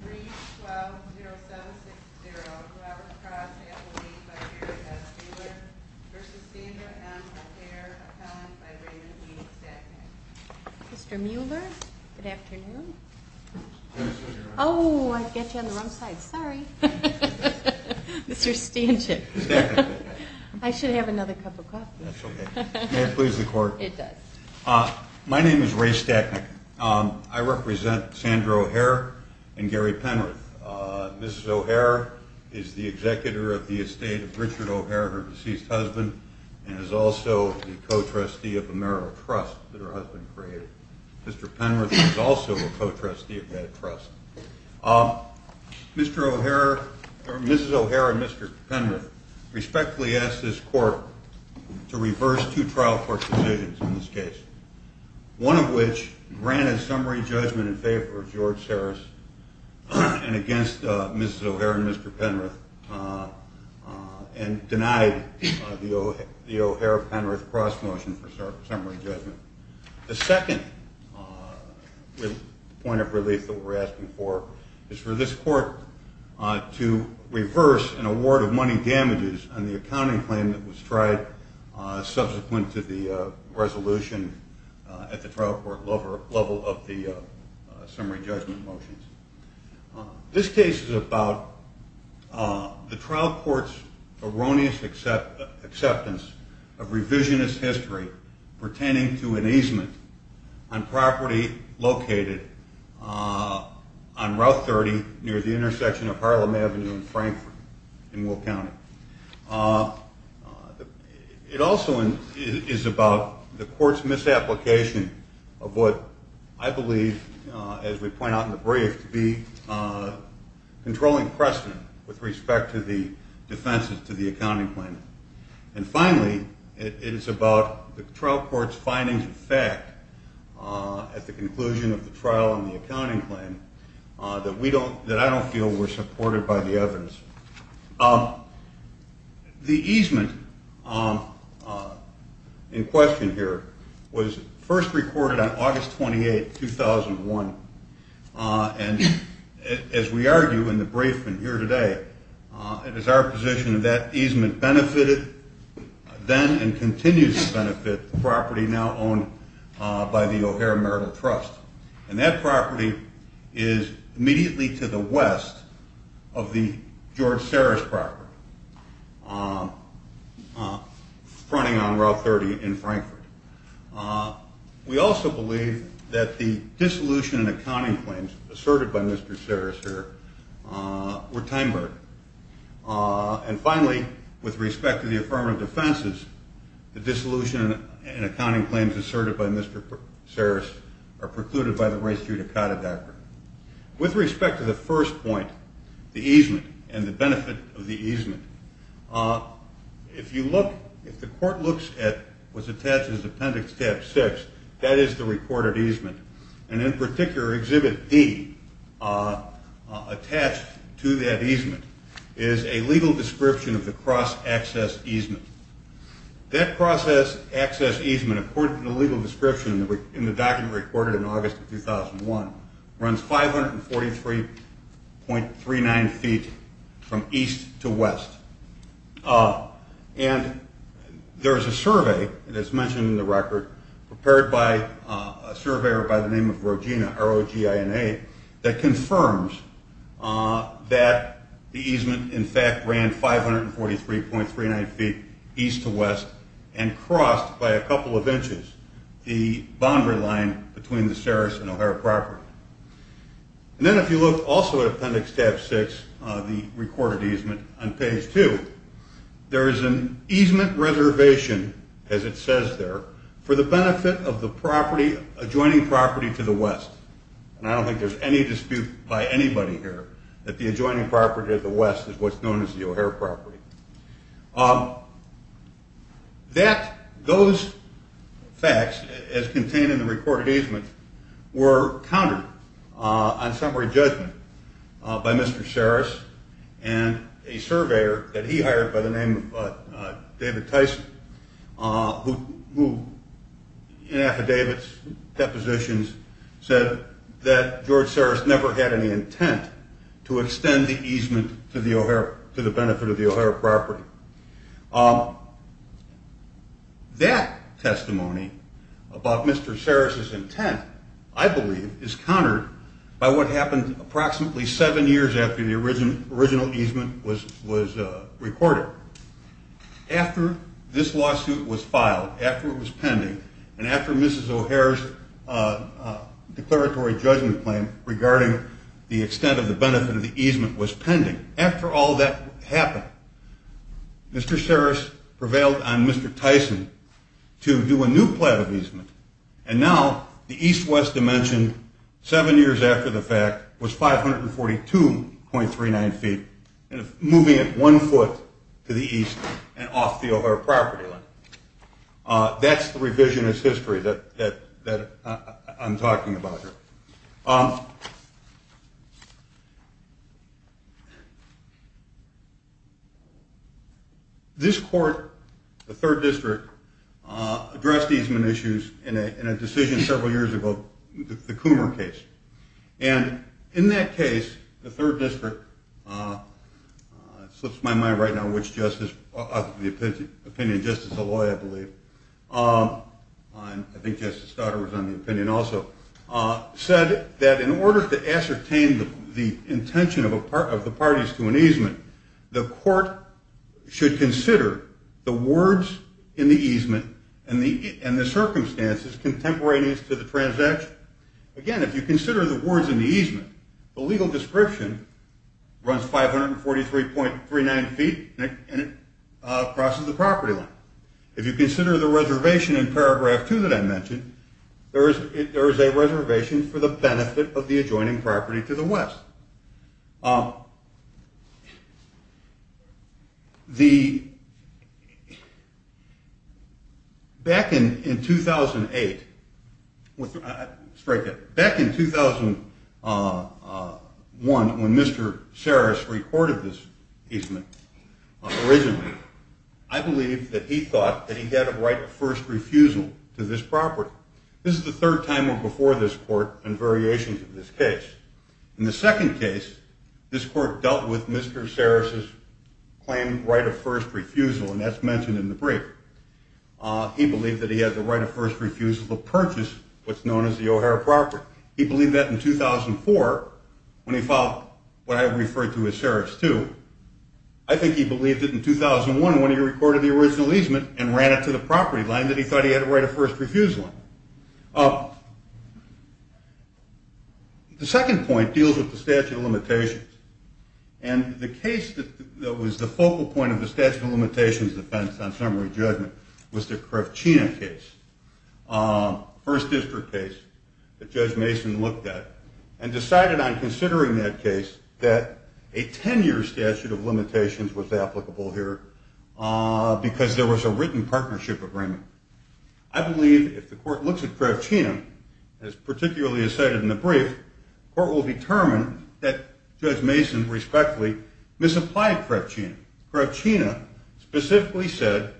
3-12-07-6-0, whoever crossed the FAA by Gary S. Mueller v. Sandra M. O'Heir, appellant by Raymond E. Stachnik. Mr. Mueller, good afternoon. Oh, I got you on the wrong side, sorry. Mr. Stachnik. I should have another cup of coffee. That's okay. May it please the Court? It does. My name is Ray Stachnik. I represent Sandra O'Heir and Gary Penrith. Mrs. O'Heir is the executor of the estate of Richard O'Heir, her deceased husband, and is also the co-trustee of a marital trust that her husband created. Mr. Penrith is also a co-trustee of that trust. Mrs. O'Heir and Mr. Penrith respectfully ask this Court to reverse two trial court decisions in this case, one of which granted summary judgment in favor of George Harris and against Mrs. O'Heir and Mr. Penrith, and denied the O'Heir-Penrith cross-motion for summary judgment. The second point of relief that we're asking for is for this Court to reverse an award of money damages on the accounting claim that was tried subsequent to the resolution at the trial court level of the summary judgment motions. This case is about the trial court's erroneous acceptance of revisionist history pertaining to an easement on property located on Route 30 near the intersection of Harlem Avenue and Frankfort in Will County. It also is about the Court's misapplication of what I believe, as we point out in the brief, to be controlling precedent with respect to the defenses to the accounting claim. And finally, it is about the trial court's findings of fact at the conclusion of the trial on the accounting claim that I don't feel were supported by the evidence. The easement in question here was first recorded on August 28, 2001, and as we argue in the brief here today, it is our position that that easement benefited then and continues to benefit the property now owned by the O'Heir Marital Trust. And that property is immediately to the west of the George Sarris property, fronting on Route 30 in Frankfort. We also believe that the dissolution and accounting claims asserted by Mr. Sarris here were time-burdened. And finally, with respect to the affirmative defenses, the dissolution and accounting claims asserted by Mr. Sarris are precluded by the race judicata doctrine. With respect to the first point, the easement and the benefit of the easement, if the Court looks at what's attached as Appendix Tab 6, that is the recorded easement, and in particular Exhibit D attached to that easement is a legal description of the cross-access easement. That cross-access easement, according to the legal description in the document recorded in August of 2001, runs 543.39 feet from east to west. And there is a survey, as mentioned in the record, prepared by a surveyor by the name of Rogina, that confirms that the easement in fact ran 543.39 feet east to west and crossed by a couple of inches the boundary line between the Sarris and O'Hare property. And then if you look also at Appendix Tab 6, the recorded easement, on page 2, there is an easement reservation, as it says there, for the benefit of the adjoining property to the west. And I don't think there's any dispute by anybody here that the adjoining property to the west is what's known as the O'Hare property. Those facts, as contained in the recorded easement, were countered on summary judgment by Mr. Sarris and a surveyor that he hired by the name of David Tyson, who in affidavits, depositions, said that George Sarris never had any intent to extend the easement to the benefit of the O'Hare property. That testimony about Mr. Sarris's intent, I believe, is countered by what happened approximately seven years after the original easement was recorded. After this lawsuit was filed, after it was pending, and after Mrs. O'Hare's declaratory judgment claim regarding the extent of the benefit of the easement was pending, after all that happened, Mr. Sarris prevailed on Mr. Tyson to do a new plan of easement. And now the east-west dimension seven years after the fact was 542.39 feet, moving it one foot to the east and off the O'Hare property line. That's the revisionist history that I'm talking about here. This court, the third district, addressed easement issues in a decision several years ago, the Coomer case. And in that case, the third district, it slips my mind right now which justice, the opinion of Justice Aloi, I believe, I think Justice Stoddard was on the opinion also, said that in order to ascertain the intention of the parties to an easement, the court should consider the words in the easement and the circumstances contemporaneous to the transaction. Again, if you consider the words in the easement, the legal description runs 543.39 feet and it crosses the property line. If you consider the reservation in paragraph two that I mentioned, there is a reservation for the benefit of the adjoining property to the west. Back in 2008, back in 2001 when Mr. Sarris reported this easement, originally, I believe that he thought that he had a right of first refusal to this property. This is the third time before this court in variations of this case. In the second case, this court dealt with Mr. Sarris' claim right of first refusal, and that's mentioned in the brief. He believed that he had the right of first refusal to purchase what's known as the O'Hare property. He believed that in 2004 when he filed what I referred to as Sarris 2. I think he believed it in 2001 when he reported the original easement and ran it to the property line that he thought he had a right of first refusal. The second point deals with the statute of limitations. And the case that was the focal point of the statute of limitations defense on summary judgment was the Kravchina case, first district case that Judge Mason looked at and decided on considering that case that a 10-year statute of limitations was applicable here because there was a written partnership agreement. I believe if the court looks at Kravchina, as particularly as cited in the brief, the court will determine that Judge Mason respectfully misapplied Kravchina. Kravchina specifically said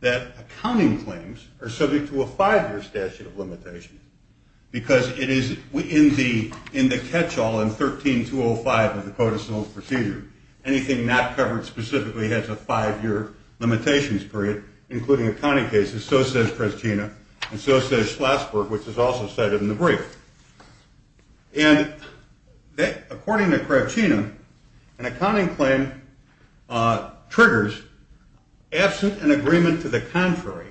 that accounting claims are subject to a five-year statute of limitations because it is in the catch-all in 13-205 of the codicil procedure. Anything not covered specifically has a five-year limitations period, including accounting cases. So says Kravchina, and so says Schlatzberg, which is also cited in the brief. And according to Kravchina, an accounting claim triggers absent an agreement to the contrary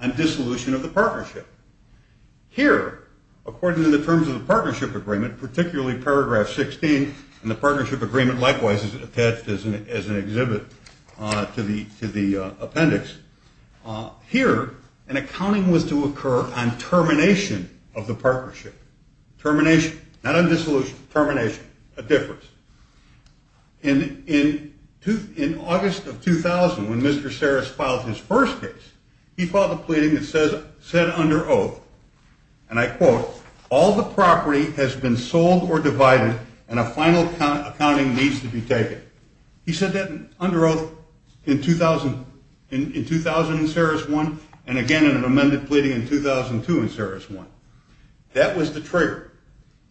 on dissolution of the partnership. Here, according to the terms of the partnership agreement, particularly paragraph 16, and the partnership agreement likewise is attached as an exhibit to the appendix, here an accounting was to occur on termination of the partnership. Termination, not on dissolution, termination, a difference. In August of 2000, when Mr. Sarris filed his first case, he filed a pleading that said under oath, and I quote, all the property has been sold or divided and a final accounting needs to be taken. He said that under oath in 2000 in Sarris 1, and again in an amended pleading in 2002 in Sarris 1. That was the trigger.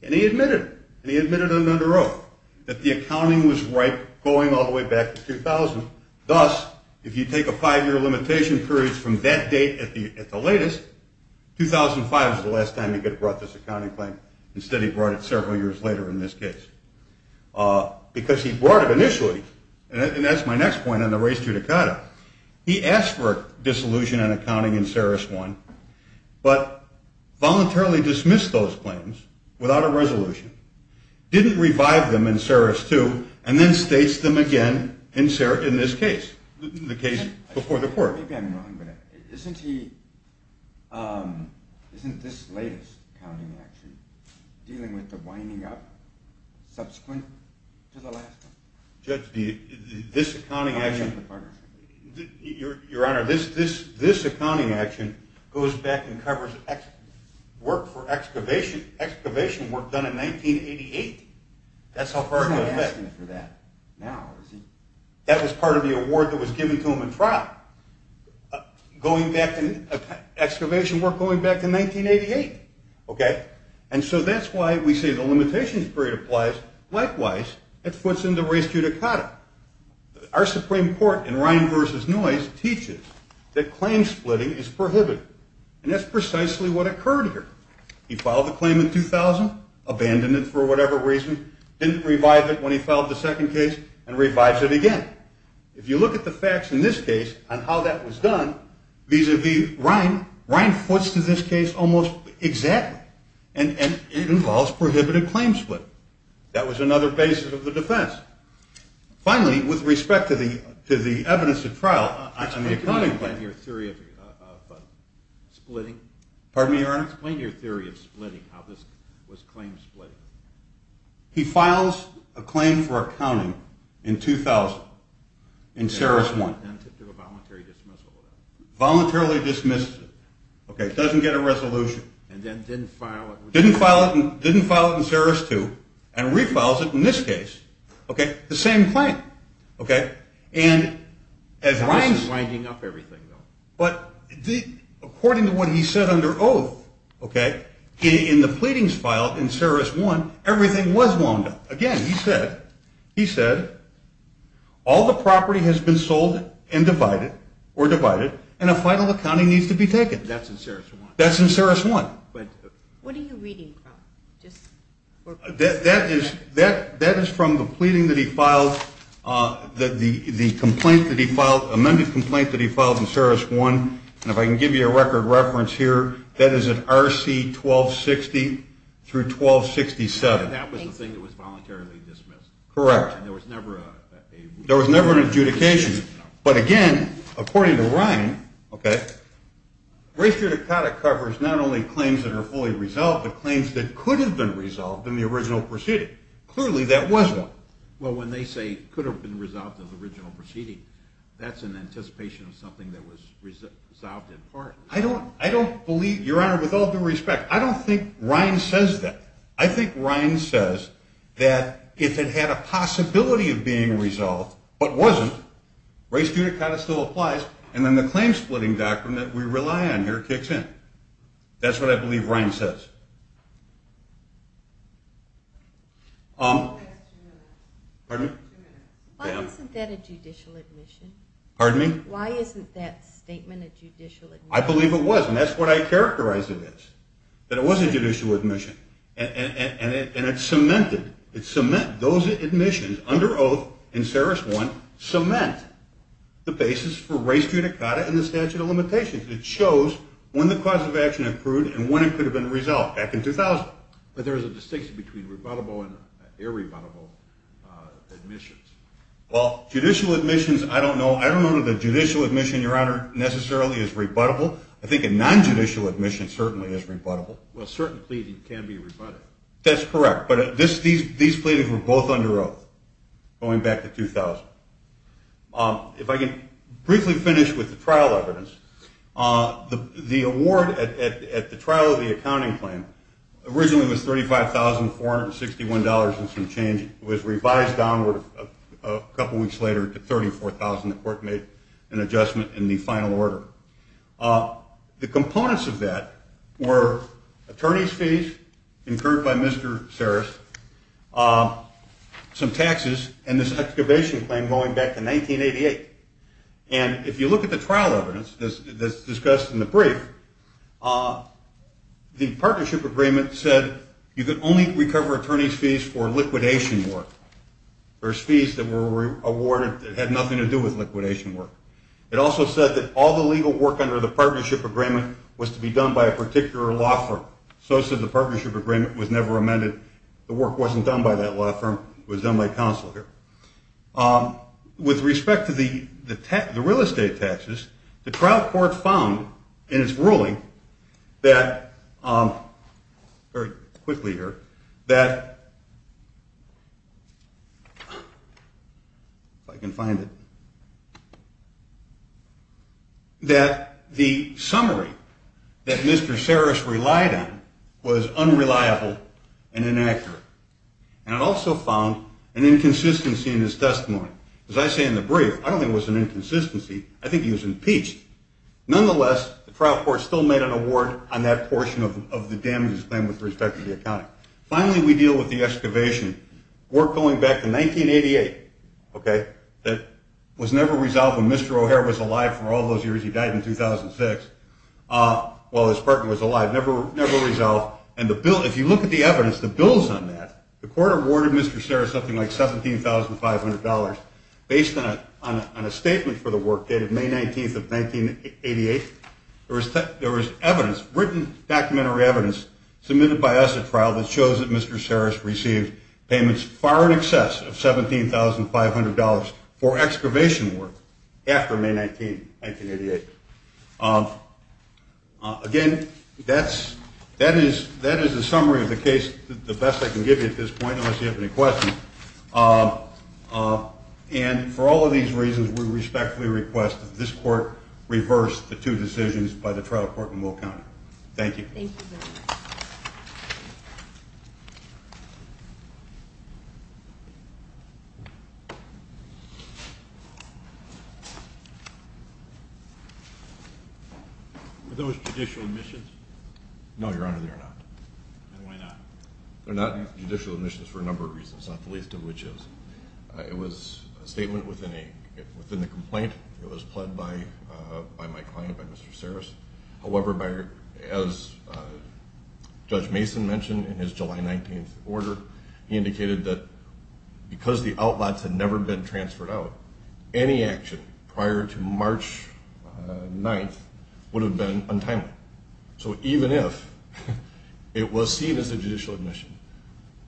And he admitted, and he admitted under oath, that the accounting was right going all the way back to 2000. Thus, if you take a five-year limitation period from that date at the latest, 2005 is the last time you could have brought this accounting claim. Instead, he brought it several years later in this case. Because he brought it initially, and that's my next point on the res judicata. He asked for a dissolution on accounting in Sarris 1, but voluntarily dismissed those claims without a resolution, didn't revive them in Sarris 2, and then states them again in this case, the case before the court. I've already been wrong, but isn't he, isn't this latest accounting action dealing with the winding up subsequent to the last one? Judge, this accounting action, Your Honor, this accounting action goes back and covers work for excavation, excavation work done in 1988. That's how far it goes back. He's not asking for that now, is he? That was part of the award that was given to him in trial, going back to excavation work going back to 1988, okay? And so that's why we say the limitations period applies. Likewise, it puts in the res judicata. Our Supreme Court in Ryan v. Noyce teaches that claim splitting is prohibited, and that's precisely what occurred here. He filed the claim in 2000, abandoned it for whatever reason, didn't revive it when he filed the second case, and revives it again. If you look at the facts in this case on how that was done vis-a-vis Ryan, Ryan puts to this case almost exactly, and it involves prohibited claim splitting. That was another basis of the defense. Finally, with respect to the evidence at trial on the accounting case. Can you explain your theory of splitting? Pardon me, Your Honor? Can you explain your theory of splitting, how this was claim splitting? He files a claim for accounting in 2000, in Saris 1. And voluntarily dismisses it. Voluntarily dismisses it. Okay, doesn't get a resolution. And then didn't file it. Didn't file it in Saris 2, and refiles it in this case. Okay? The same claim. Okay? This is winding up everything, though. But according to what he said under oath, okay, in the pleadings filed in Saris 1, everything was wound up. Again, he said, he said, all the property has been sold and divided, or divided, and a final accounting needs to be taken. That's in Saris 1. That's in Saris 1. What are you reading from? That is from the pleading that he filed, the complaint that he filed, amended complaint that he filed in Saris 1. And if I can give you a record reference here, that is at RC 1260 through 1267. And that was the thing that was voluntarily dismissed? Correct. And there was never a? There was never an adjudication. But again, according to Ryan, okay, race judicata covers not only claims that are fully resolved, but claims that could have been resolved in the original proceeding. Clearly, that wasn't. Well, when they say could have been resolved in the original proceeding, that's in anticipation of something that was resolved in part. I don't believe, Your Honor, with all due respect, I don't think Ryan says that. I think Ryan says that if it had a possibility of being resolved, but wasn't, race judicata still applies, and then the claim-splitting doctrine that we rely on here kicks in. That's what I believe Ryan says. Pardon me? Why isn't that a judicial admission? Pardon me? Why isn't that statement a judicial admission? I believe it was, and that's what I characterized it as, that it was a judicial admission. And it cemented, it cemented those admissions under oath in Saris 1, cement the basis for race judicata and the statute of limitations. It shows when the cause of action approved and when it could have been resolved back in 2000. But there's a distinction between rebuttable and irrebuttable admissions. Well, judicial admissions, I don't know. I don't know that a judicial admission, Your Honor, necessarily is rebuttable. Well, a certain pleading can be rebuttable. That's correct. But these pleadings were both under oath going back to 2000. If I can briefly finish with the trial evidence, the award at the trial of the accounting claim originally was $35,461 and some change. It was revised downward a couple weeks later to $34,000. The court made an adjustment in the final order. The components of that were attorney's fees incurred by Mr. Saris, some taxes, and this excavation claim going back to 1988. And if you look at the trial evidence that's discussed in the brief, the partnership agreement said you could only recover attorney's fees for liquidation work. There's fees that were awarded that had nothing to do with liquidation work. It also said that all the legal work under the partnership agreement was to be done by a particular law firm. So it said the partnership agreement was never amended. The work wasn't done by that law firm. It was done by counsel here. With respect to the real estate taxes, the trial court found in its ruling that, very quickly here, that the summary that Mr. Saris relied on was unreliable and inaccurate. And it also found an inconsistency in his testimony. As I say in the brief, I don't think it was an inconsistency. I think he was impeached. Nonetheless, the trial court still made an award on that portion of the damages claim with respect to the accounting. Finally, we deal with the excavation work going back to 1988, okay, that was never resolved when Mr. O'Hare was alive for all those years. He died in 2006 while his partner was alive. Never resolved. And if you look at the evidence, the bills on that, the court awarded Mr. Saris something like $17,500 based on a statement for the work dated May 19th of 1988. There was written documentary evidence submitted by us at trial that shows that Mr. Saris received payments far in excess of $17,500 for excavation work after May 19th, 1988. Again, that is the summary of the case, the best I can give you at this point, unless you have any questions. And for all of these reasons, we respectfully request that this court reverse the two decisions by the trial court in Will County. Thank you. Thank you very much. Were those judicial admissions? No, Your Honor, they are not. Then why not? They're not judicial admissions for a number of reasons, not the least of which is it was a statement within the complaint. It was pled by my client, by Mr. Saris. However, as Judge Mason mentioned in his July 19th order, he indicated that because the outlots had never been transferred out, any action prior to March 9th would have been untimely. So even if it was seen as a judicial admission,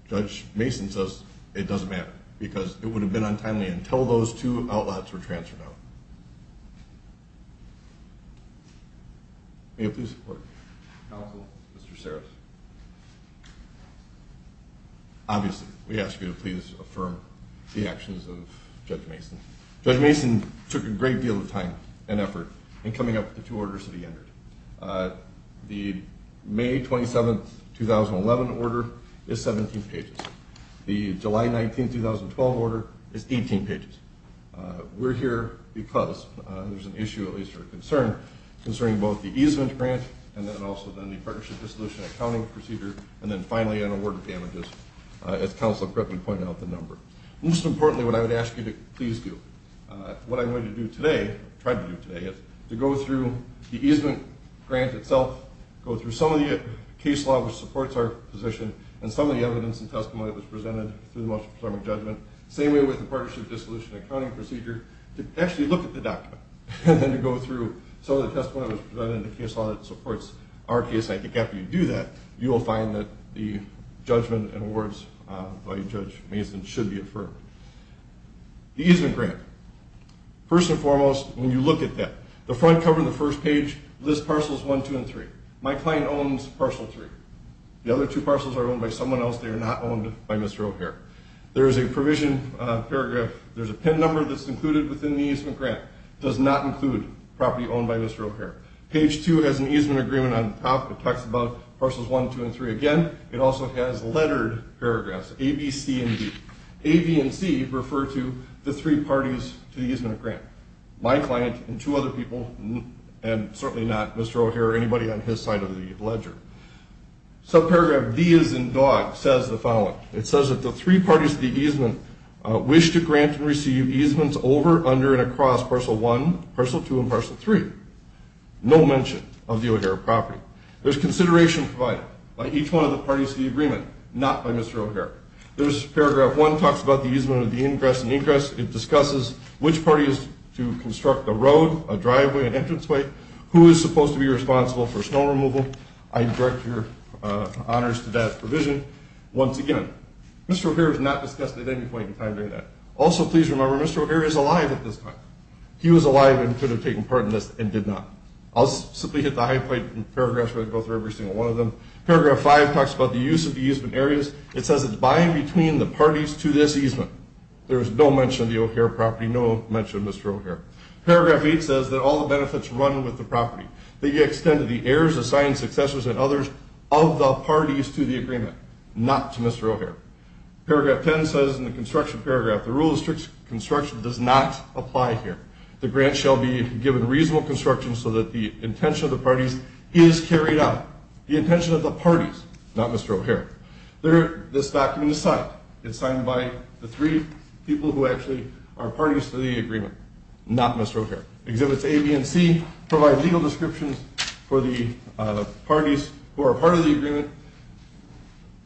Judge Mason says it doesn't matter because it would have been untimely until those two outlots were transferred out. May I please report? Counsel. Mr. Saris. Obviously, we ask you to please affirm the actions of Judge Mason. Judge Mason took a great deal of time and effort in coming up with the two orders that he entered. The May 27th, 2011 order is 17 pages. The July 19th, 2012 order is 18 pages. We're here because there's an issue, at least a concern, concerning both the easement grant and then also the partnership dissolution accounting procedure, and then finally an award of damages, as Counselor Griffin pointed out the number. Most importantly, what I would ask you to please do, what I'm going to do today, try to do today, is to go through the easement grant itself, go through some of the case law which supports our position, and some of the evidence and testimony that was presented through the most presumptive judgment. Same way with the partnership dissolution accounting procedure, to actually look at the document and then to go through some of the testimony that was presented in the case law that supports our case. I think after you do that, you will find that the judgment and awards by Judge Mason should be affirmed. The easement grant. First and foremost, when you look at that, the front cover on the first page lists parcels 1, 2, and 3. My client owns parcel 3. The other two parcels are owned by someone else. They are not owned by Mr. O'Hare. There is a provision, paragraph, there's a pin number that's included within the easement grant. It does not include property owned by Mr. O'Hare. Page 2 has an easement agreement on top. It talks about parcels 1, 2, and 3 again. It also has lettered paragraphs, A, B, C, and D. A, B, and C refer to the three parties to the easement grant. My client and two other people, and certainly not Mr. O'Hare or anybody on his side of the ledger. Subparagraph D as in dog says the following. It says that the three parties to the easement wish to grant and receive easements over, under, and across parcel 1, parcel 2, and parcel 3. No mention of the O'Hare property. There's consideration provided by each one of the parties to the agreement, not by Mr. O'Hare. There's paragraph 1 talks about the easement of the ingress and egress. It discusses which parties to construct a road, a driveway, an entranceway, who is supposed to be responsible for snow removal. I direct your honors to that provision. Once again, Mr. O'Hare has not discussed it at any point in time during that. Also, please remember Mr. O'Hare is alive at this time. He was alive and could have taken part in this and did not. I'll simply hit the high point in paragraphs where I go through every single one of them. Paragraph 5 talks about the use of the easement areas. It says it's by and between the parties to this easement. There is no mention of the O'Hare property, no mention of Mr. O'Hare. Paragraph 8 says that all the benefits run with the property. They extend to the heirs, assigned successors, and others of the parties to the agreement, not to Mr. O'Hare. Paragraph 10 says in the construction paragraph, the rule of strict construction does not apply here. The grant shall be given reasonable construction so that the intention of the parties is carried out. The intention of the parties, not Mr. O'Hare. This document is signed. It's signed by the three people who actually are parties to the agreement, not Mr. O'Hare. Exhibits A, B, and C provide legal descriptions for the parties who are part of the agreement.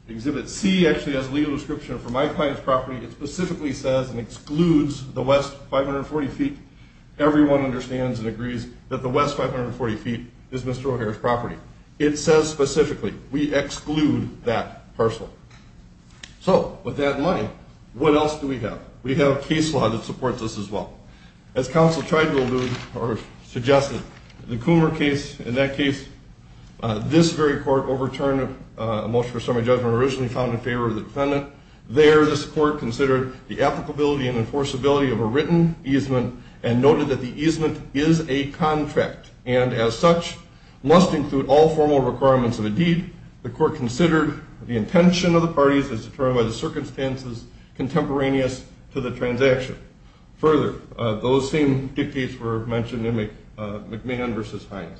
Exhibit C actually has a legal description for my client's property. It specifically says and excludes the West 540 feet. Everyone understands and agrees that the West 540 feet is Mr. O'Hare's property. It says specifically, we exclude that parcel. So, with that in mind, what else do we have? We have a case law that supports this as well. As counsel tried to allude or suggested, the Coomer case, in that case, this very court overturned a motion for summary judgment originally found in favor of the defendant. There, this court considered the applicability and enforceability of a written easement and noted that the easement is a contract and, as such, must include all formal requirements of a deed. The court considered the intention of the parties as determined by the circumstances contemporaneous to the transaction. Further, those same dictates were mentioned in McMahon v. Hines.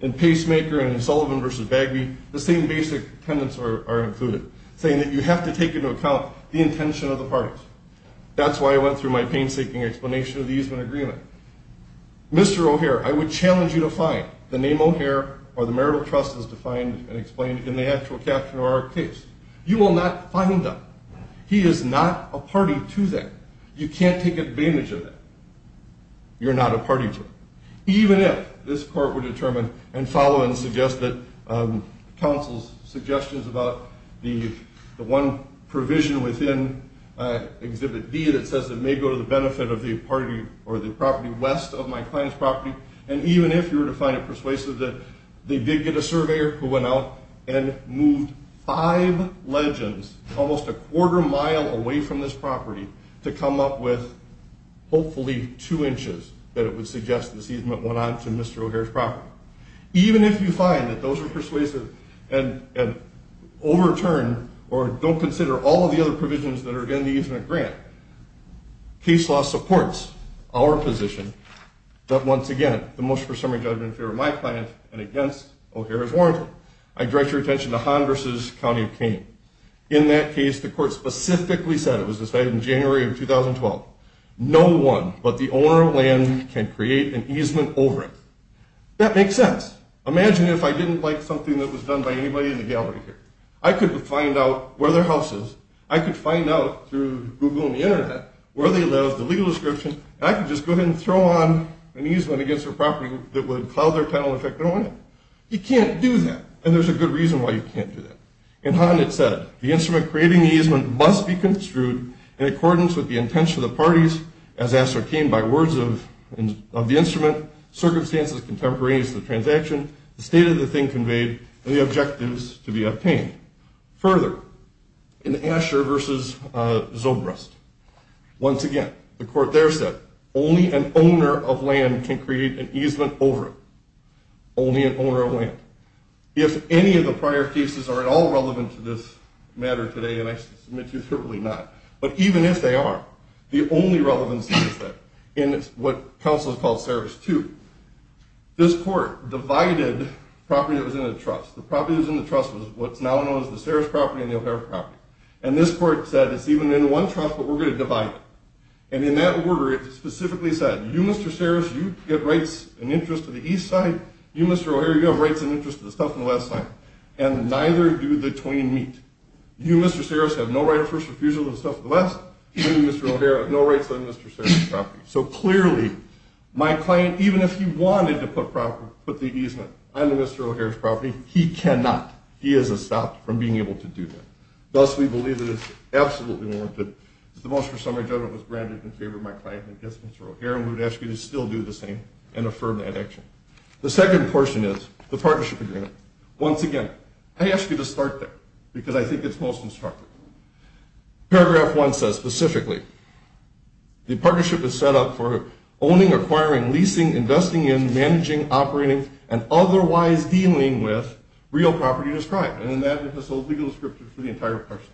In Pacemaker and Sullivan v. Bagby, the same basic tenets are included, saying that you have to take into account the intention of the parties. That's why I went through my painstaking explanation of the easement agreement. Mr. O'Hare, I would challenge you to find the name O'Hare or the marital trust as defined and explained in the actual caption of our case. You will not find them. He is not a party to that. You can't take advantage of that. You're not a party to it. Even if this court would determine and follow and suggest that counsel's suggestions about the one provision within Exhibit D that says it may go to the benefit of the party or the property west of my client's property, and even if you were to find it persuasive that they did get a surveyor who went out and moved five legends almost a quarter mile away from this property to come up with hopefully two inches that it would suggest this easement went on to Mr. O'Hare's property, even if you find that those are persuasive and overturn or don't consider all of the other provisions that are in the easement grant, case law supports our position that, once again, the motion for summary judgment in favor of my client and against O'Hare is warranted. I direct your attention to Honduras' County of Kane. In that case, the court specifically said, it was decided in January of 2012, no one but the owner of land can create an easement over it. That makes sense. Imagine if I didn't like something that was done by anybody in the gallery here. I could find out where their house is. I could find out through Google and the Internet where they live, the legal description, and I could just go ahead and throw on an easement against their property that would cloud their title and affect their ownership. You can't do that, and there's a good reason why you can't do that. In Hond, it said, the instrument creating the easement must be construed in accordance with the intention of the parties, as ascertained by words of the instrument, circumstances contemporaneous to the transaction, the state of the thing conveyed, and the objectives to be obtained. Further, in Asher v. Zobrist, once again, the court there said, only an owner of land can create an easement over it. Only an owner of land. If any of the prior cases are at all relevant to this matter today, and I submit to you certainly not, but even if they are, the only relevance is that in what counsel has called Saris II, this court divided property that was in the trust. The property that was in the trust was what's now known as the Saris property and the O'Hare property. And this court said, it's even in one trust, but we're going to divide it. And in that order, it specifically said, you, Mr. Saris, you get rights and interest to the east side, you, Mr. O'Hare, you have rights and interest to the south and west side, and neither do the twin meet. You, Mr. Saris, have no right of first refusal to the south and the west, and you, Mr. O'Hare, have no rights on Mr. Saris' property. So clearly, my client, even if he wanted to put the easement on Mr. O'Hare's property, he cannot. He is stopped from being able to do that. Thus, we believe it is absolutely warranted that the motion for summary judgment was granted in favor of my client, Mr. O'Hare, and we would ask you to still do the same and affirm that action. The second portion is the partnership agreement. Once again, I ask you to start there because I think it's most instructive. Paragraph 1 says, specifically, the partnership is set up for owning, acquiring, leasing, investing in, managing, operating, and otherwise dealing with real property described. And in that, it has a legal scripture for the entire parcel,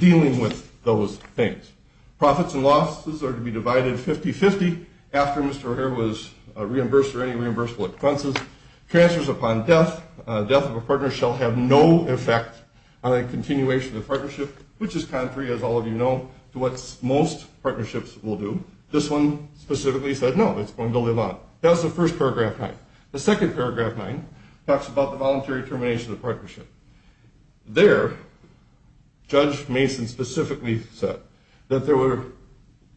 dealing with those things. Profits and losses are to be divided 50-50 after Mr. O'Hare was reimbursed or any reimbursable expenses. Transfers upon death, death of a partner shall have no effect on a continuation of the partnership, which is contrary, as all of you know, to what most partnerships will do. This one specifically said, no, it's going to build a lot. That was the first paragraph 9. The second paragraph 9 talks about the voluntary termination of the partnership. There, Judge Mason specifically said that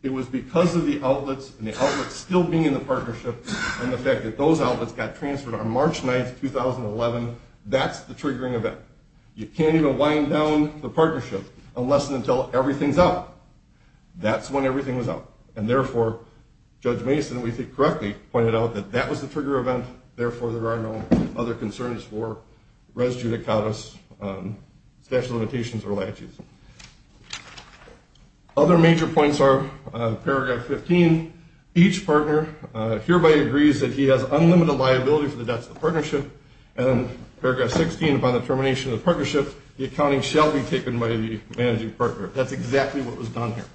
it was because of the outlets and the outlets still being in the partnership and the fact that those outlets got transferred on March 9, 2011, that's the triggering event. You can't even wind down the partnership unless and until everything's up. That's when everything was up. And therefore, Judge Mason, if we think correctly, pointed out that that was the trigger event. Therefore, there are no other concerns for res judicatus, statute of limitations, or latches. Other major points are paragraph 15. Each partner hereby agrees that he has unlimited liability for the deaths of the partnership. And paragraph 16, upon the termination of the partnership, the accounting shall be taken by the managing partner. That's exactly what was done here.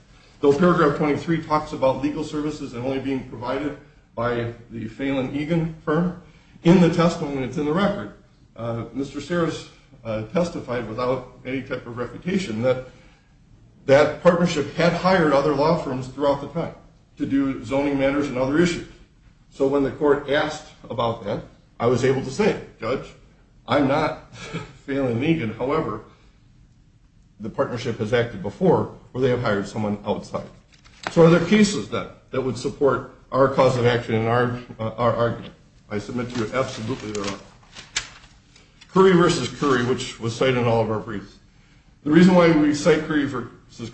Though paragraph 23 talks about legal services and only being provided by the Phelan Egan firm, in the testimony that's in the record, Mr. Sarris testified without any type of refutation that that partnership had hired other law firms throughout the time to do zoning matters and other issues. So when the court asked about that, I was able to say, Judge, I'm not Phelan Egan. However, the partnership has acted before where they have hired someone outside. So are there cases that would support our cause of action and our argument? I submit to you absolutely there are. Curry v. Curry, which was cited in all of our briefs. The reason why we cite Curry v.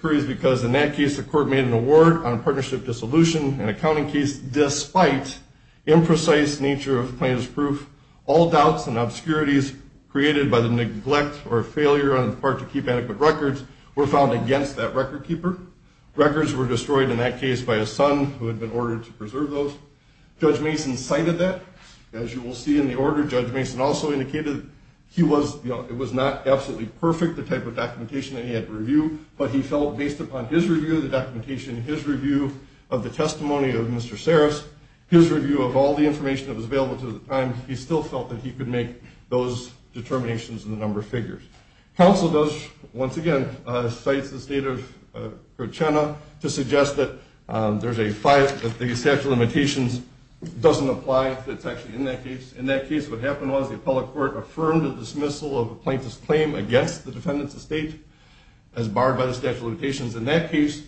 Curry is because in that case the court made an award on partnership dissolution, an accounting case despite imprecise nature of plaintiff's proof, all doubts and obscurities created by the neglect or failure on the part to keep adequate records were found against that record keeper. Records were destroyed in that case by a son who had been ordered to preserve those. Judge Mason cited that. As you will see in the order, Judge Mason also indicated it was not absolutely perfect, the type of documentation that he had to review, but he felt based upon his review, the documentation in his review of the testimony of Mr. Sarris, his review of all the information that was available to him at the time, he still felt that he could make those determinations in the number of figures. Counsel, once again, cites the state of Coachella to suggest that the statute of limitations doesn't apply, that it's actually in that case. In that case what happened was the appellate court affirmed the dismissal of the plaintiff's claim against the defendants of state as barred by the statute of limitations. The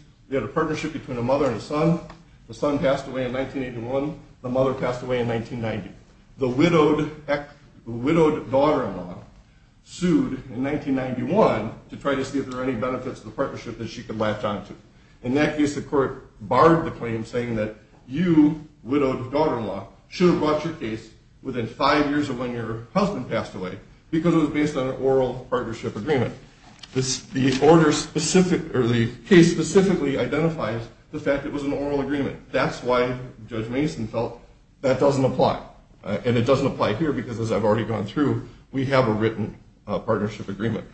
son passed away in 1981. The mother passed away in 1990. The widowed daughter-in-law sued in 1991 to try to see if there were any benefits to the partnership that she could latch onto. In that case the court barred the claim saying that you, widowed daughter-in-law, should have brought your case within five years of when your husband passed away because it was based on an oral partnership agreement. The case specifically identifies the fact it was an oral agreement. That's why Judge Mason felt that doesn't apply. And it doesn't apply here because, as I've already gone through, we have a written partnership agreement.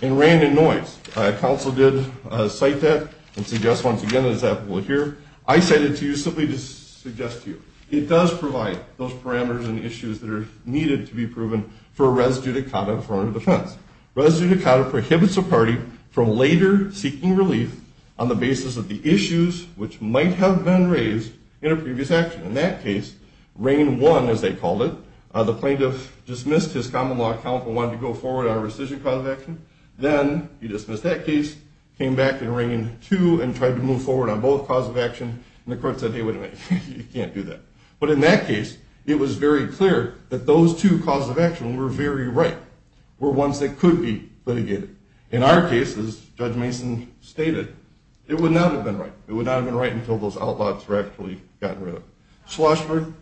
In Rand and Noyce, counsel did cite that and suggest, once again, as we'll hear, I cited it to you simply to suggest to you. It does provide those parameters and issues that are needed to be proven for a res judicata in a foreign of defense. Res judicata prohibits a party from later seeking relief on the basis of the issues which might have been raised in a previous action. In that case, reign one, as they called it, the plaintiff dismissed his common law account and wanted to go forward on a rescission cause of action. Then he dismissed that case, came back in reign two, and tried to move forward on both cause of action. And the court said, hey, wait a minute, you can't do that. But in that case, it was very clear that those two causes of action were very right. Were ones that could be litigated. In our case, as Judge Mason stated, it would not have been right. It would not have been right until those outlaws were actually gotten rid of. Schlossberg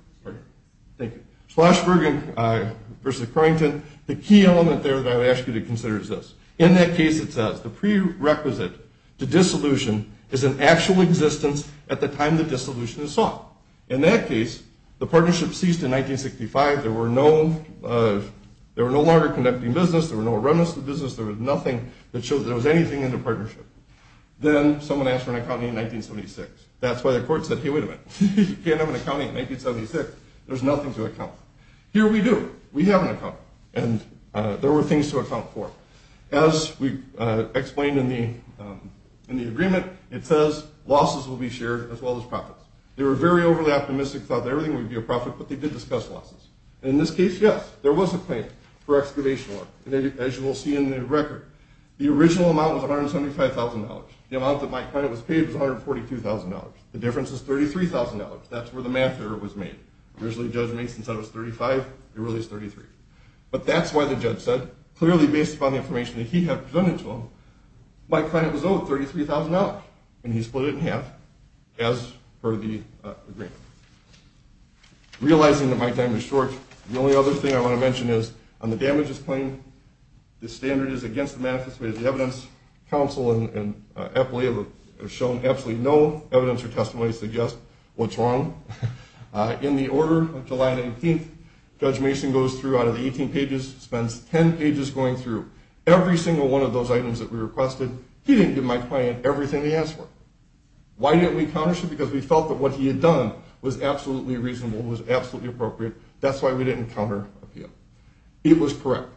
versus Carrington, the key element there that I would ask you to consider is this. In that case, it says the prerequisite to dissolution is an actual existence at the time the dissolution is sought. In that case, the partnership ceased in 1965. There were no longer conducting business. There were no remnants of business. There was nothing that showed there was anything in the partnership. Then someone asked for an accounting in 1976. That's why the court said, hey, wait a minute, you can't have an accounting in 1976. There's nothing to account for. Here we do. We have an accounting. And there were things to account for. As we explained in the agreement, it says losses will be shared as well as profits. They were very overly optimistic, thought that everything would be a profit, but they did discuss losses. In this case, yes, there was a claim for excavation work. As you will see in the record, the original amount was $175,000. The amount that Mike Kleine was paid was $142,000. The difference is $33,000. That's where the math error was made. Originally, Judge Mason said it was $35,000. It really is $33,000. But that's why the judge said, clearly based upon the information that he had presented to him, Mike Kleine was owed $33,000. And he split it in half as per the agreement. Realizing that my time is short, the only other thing I want to mention is on the damages claim, the standard is against the manifesto. The evidence, counsel and appellate have shown absolutely no evidence or testimony to suggest what's wrong. In the order of July 19th, Judge Mason goes through out of the 18 pages, spends 10 pages going through. Every single one of those items that we requested, he didn't give my client everything he asked for. Why didn't we counter him? Because we felt that what he had done was absolutely reasonable, was absolutely appropriate. That's why we didn't counter appeal. He was correct.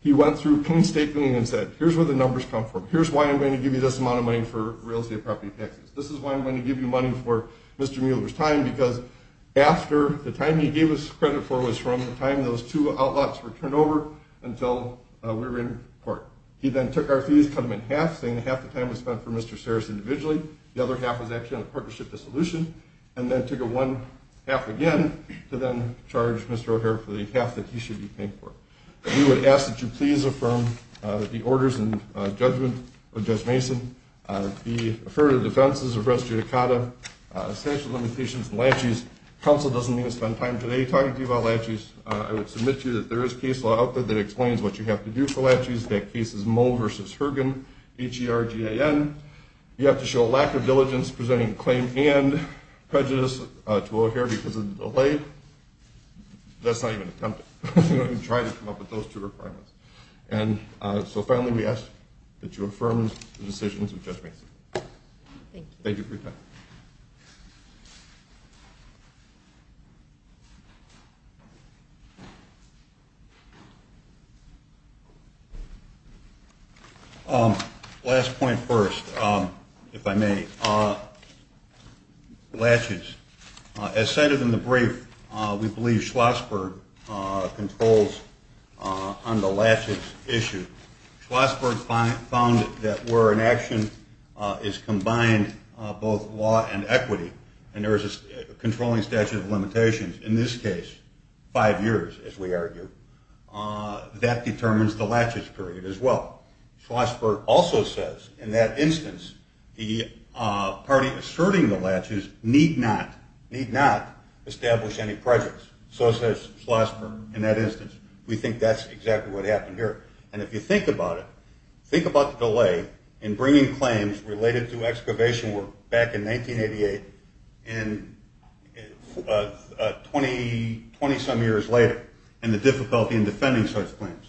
He went through clean staking and said, here's where the numbers come from. Here's why I'm going to give you this amount of money for real estate property taxes. This is why I'm going to give you money for Mr. Mueller's time, because after the time he gave us credit for was from the time those two outlaws were turned over until we were in court. He then took our fees, cut them in half, saying half the time was spent for Mr. Sarris individually, the other half was actually on a partnership dissolution, and then took one half again to then charge Mr. O'Hare for the half that he should be paying for. We would ask that you please affirm the orders in judgment of Judge Mason, the affirmative defenses of res judicata, essential limitations and laches. Counsel doesn't need to spend time today talking to you about laches. I would submit to you that there is case law out there that explains what you have to do for laches. That case is Moe v. Hergen, H-E-R-G-A-N. You have to show lack of diligence presenting a claim and prejudice to O'Hare because of the delay. That's not even attempted. We try to come up with those two requirements. So finally, we ask that you affirm the decisions of Judge Mason. Thank you. Thank you for your time. Last point first, if I may. Laches. As cited in the brief, we believe Schlossberg controls on the laches issue. Schlossberg found that where an action is combined both law and equity, and there is a controlling statute of limitations, in this case five years, as we argue, that determines the laches period as well. Schlossberg also says, in that instance, the party asserting the laches need not establish any prejudice. So says Schlossberg in that instance. We think that's exactly what happened here. And if you think about it, think about the delay in bringing claims related to excavation work back in 1988 and 20-some years later and the difficulty in defending such claims.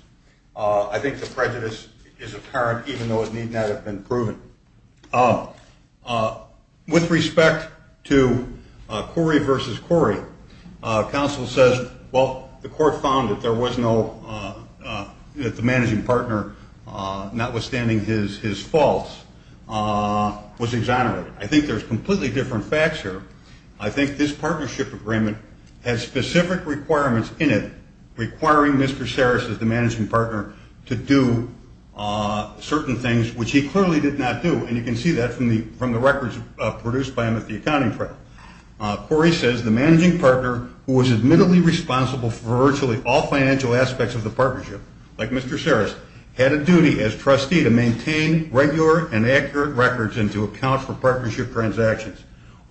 I think the prejudice is apparent, even though it need not have been proven. With respect to Corey versus Corey, counsel says, well, the court found that there was no – that the managing partner, notwithstanding his faults, was exonerated. I think there's completely different facts here. I think this partnership agreement has specific requirements in it requiring Mr. Sarris as the managing partner to do certain things, which he clearly did not do. And you can see that from the records produced by him at the accounting trial. Corey says, the managing partner, who was admittedly responsible for virtually all financial aspects of the partnership, like Mr. Sarris, had a duty as trustee to maintain regular and accurate records and to account for partnership transactions.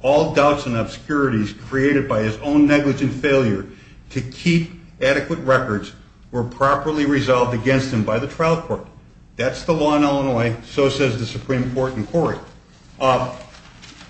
All doubts and obscurities created by his own negligent failure to keep adequate records were properly resolved against him by the trial court. That's the law in Illinois. So says the Supreme Court in Corey.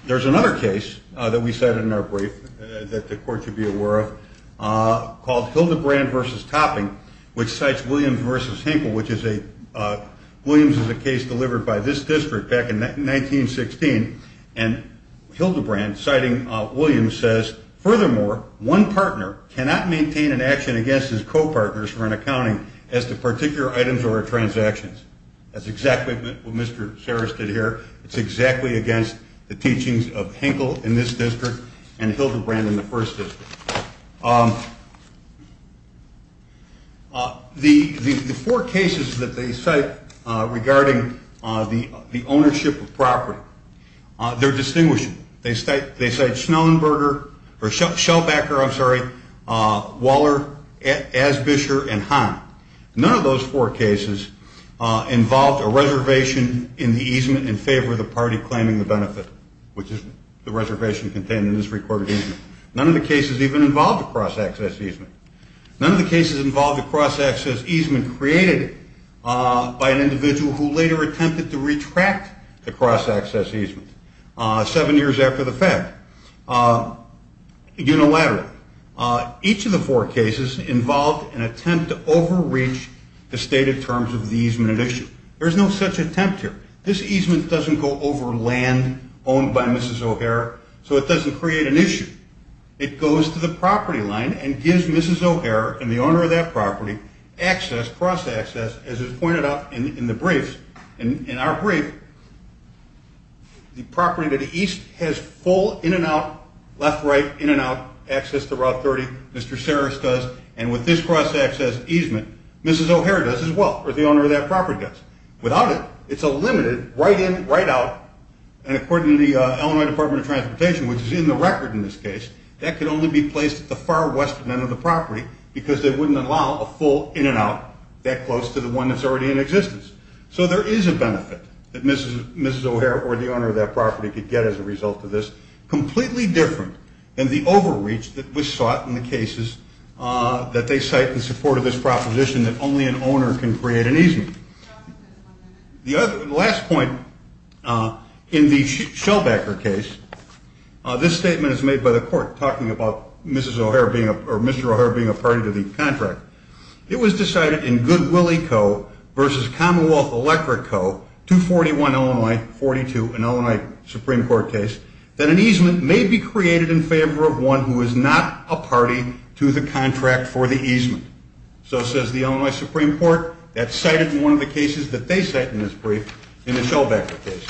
There's another case that we cited in our brief that the court should be aware of called Hildebrand versus Topping, which cites Williams versus Hinkle, which is a – Williams is a case delivered by this district back in 1916. And Hildebrand, citing Williams, says, furthermore, one partner cannot maintain an action against his co-partners for an accounting as to particular items or transactions. That's exactly what Mr. Sarris did here. It's exactly against the teachings of Hinkle in this district and Hildebrand in the first district. The four cases that they cite regarding the ownership of property, they're distinguishing. They cite Schellenberger – or Shellbacker, I'm sorry, Waller, Asbisher, and Hahn. None of those four cases involved a reservation in the easement in favor of the party claiming the benefit, which is the reservation contained in this recorded easement. None of the cases even involved a cross-access easement. None of the cases involved a cross-access easement created by an individual who later attempted to retract the cross-access easement seven years after the fact. Unilateral. Each of the four cases involved an attempt to overreach the stated terms of the easement at issue. There's no such attempt here. This easement doesn't go over land owned by Mrs. O'Hara, so it doesn't create an issue. It goes to the property line and gives Mrs. O'Hara and the owner of that property access, cross-access, as is pointed out in the briefs. In our brief, the property to the east has full in-and-out, left-right, in-and-out access to Route 30. Mr. Sarris does, and with this cross-access easement, Mrs. O'Hara does as well, or the owner of that property does. Without it, it's a limited right-in, right-out, and according to the Illinois Department of Transportation, which is in the record in this case, that could only be placed at the far western end of the property because they wouldn't allow a full in-and-out that close to the one that's already in existence. So there is a benefit that Mrs. O'Hara or the owner of that property could get as a result of this, completely different than the overreach that was sought in the cases that they cite in support of this proposition that only an owner can create an easement. The last point in the Shellbacker case, this statement is made by the court talking about Mr. O'Hara being a party to the contract. It was decided in Goodwillie Co. v. Commonwealth Electric Co., 241 Illinois 42, an Illinois Supreme Court case, that an easement may be created in favor of one who is not a party to the contract for the easement. So, says the Illinois Supreme Court, that's cited in one of the cases that they cite in this brief in the Shellbacker case.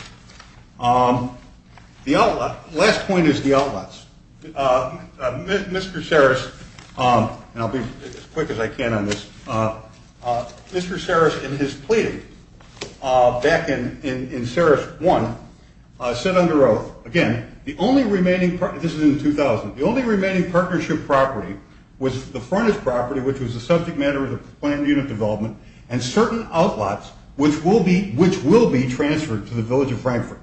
The last point is the outlets. Mr. Sarris, and I'll be as quick as I can on this, Mr. Sarris in his plea back in Sarris 1, said under oath, again, this is in 2000, the only remaining partnership property was the frontage property, which was the subject matter of the plant unit development, and certain outlots, which will be transferred to the Village of Frankfurt.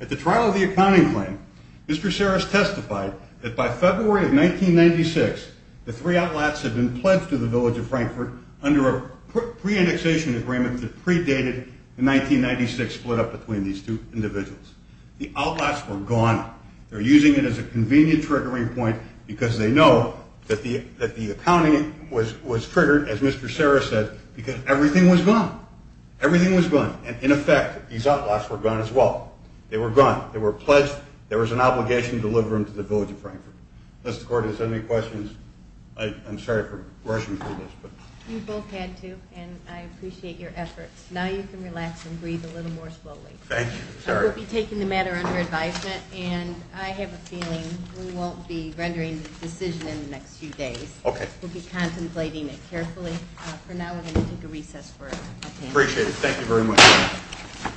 At the trial of the accounting claim, Mr. Sarris testified that by February of 1996, the three outlets had been pledged to the Village of Frankfurt under a pre-indexation agreement that predated the 1996 split up between these two individuals. The outlots were gone. They're using it as a convenient triggering point because they know that the accounting was triggered, as Mr. Sarris said, because everything was gone. Everything was gone. And, in effect, these outlots were gone as well. They were gone. They were pledged. There was an obligation to deliver them to the Village of Frankfurt. Mr. Cordray, is there any questions? I'm sorry for rushing through this. You both had to, and I appreciate your efforts. Now you can relax and breathe a little more slowly. Thank you. We'll be taking the matter under advisement, and I have a feeling we won't be rendering the decision in the next few days. Okay. We'll be contemplating it carefully. For now, we're going to take a recess for a panel. Appreciate it. Thank you very much.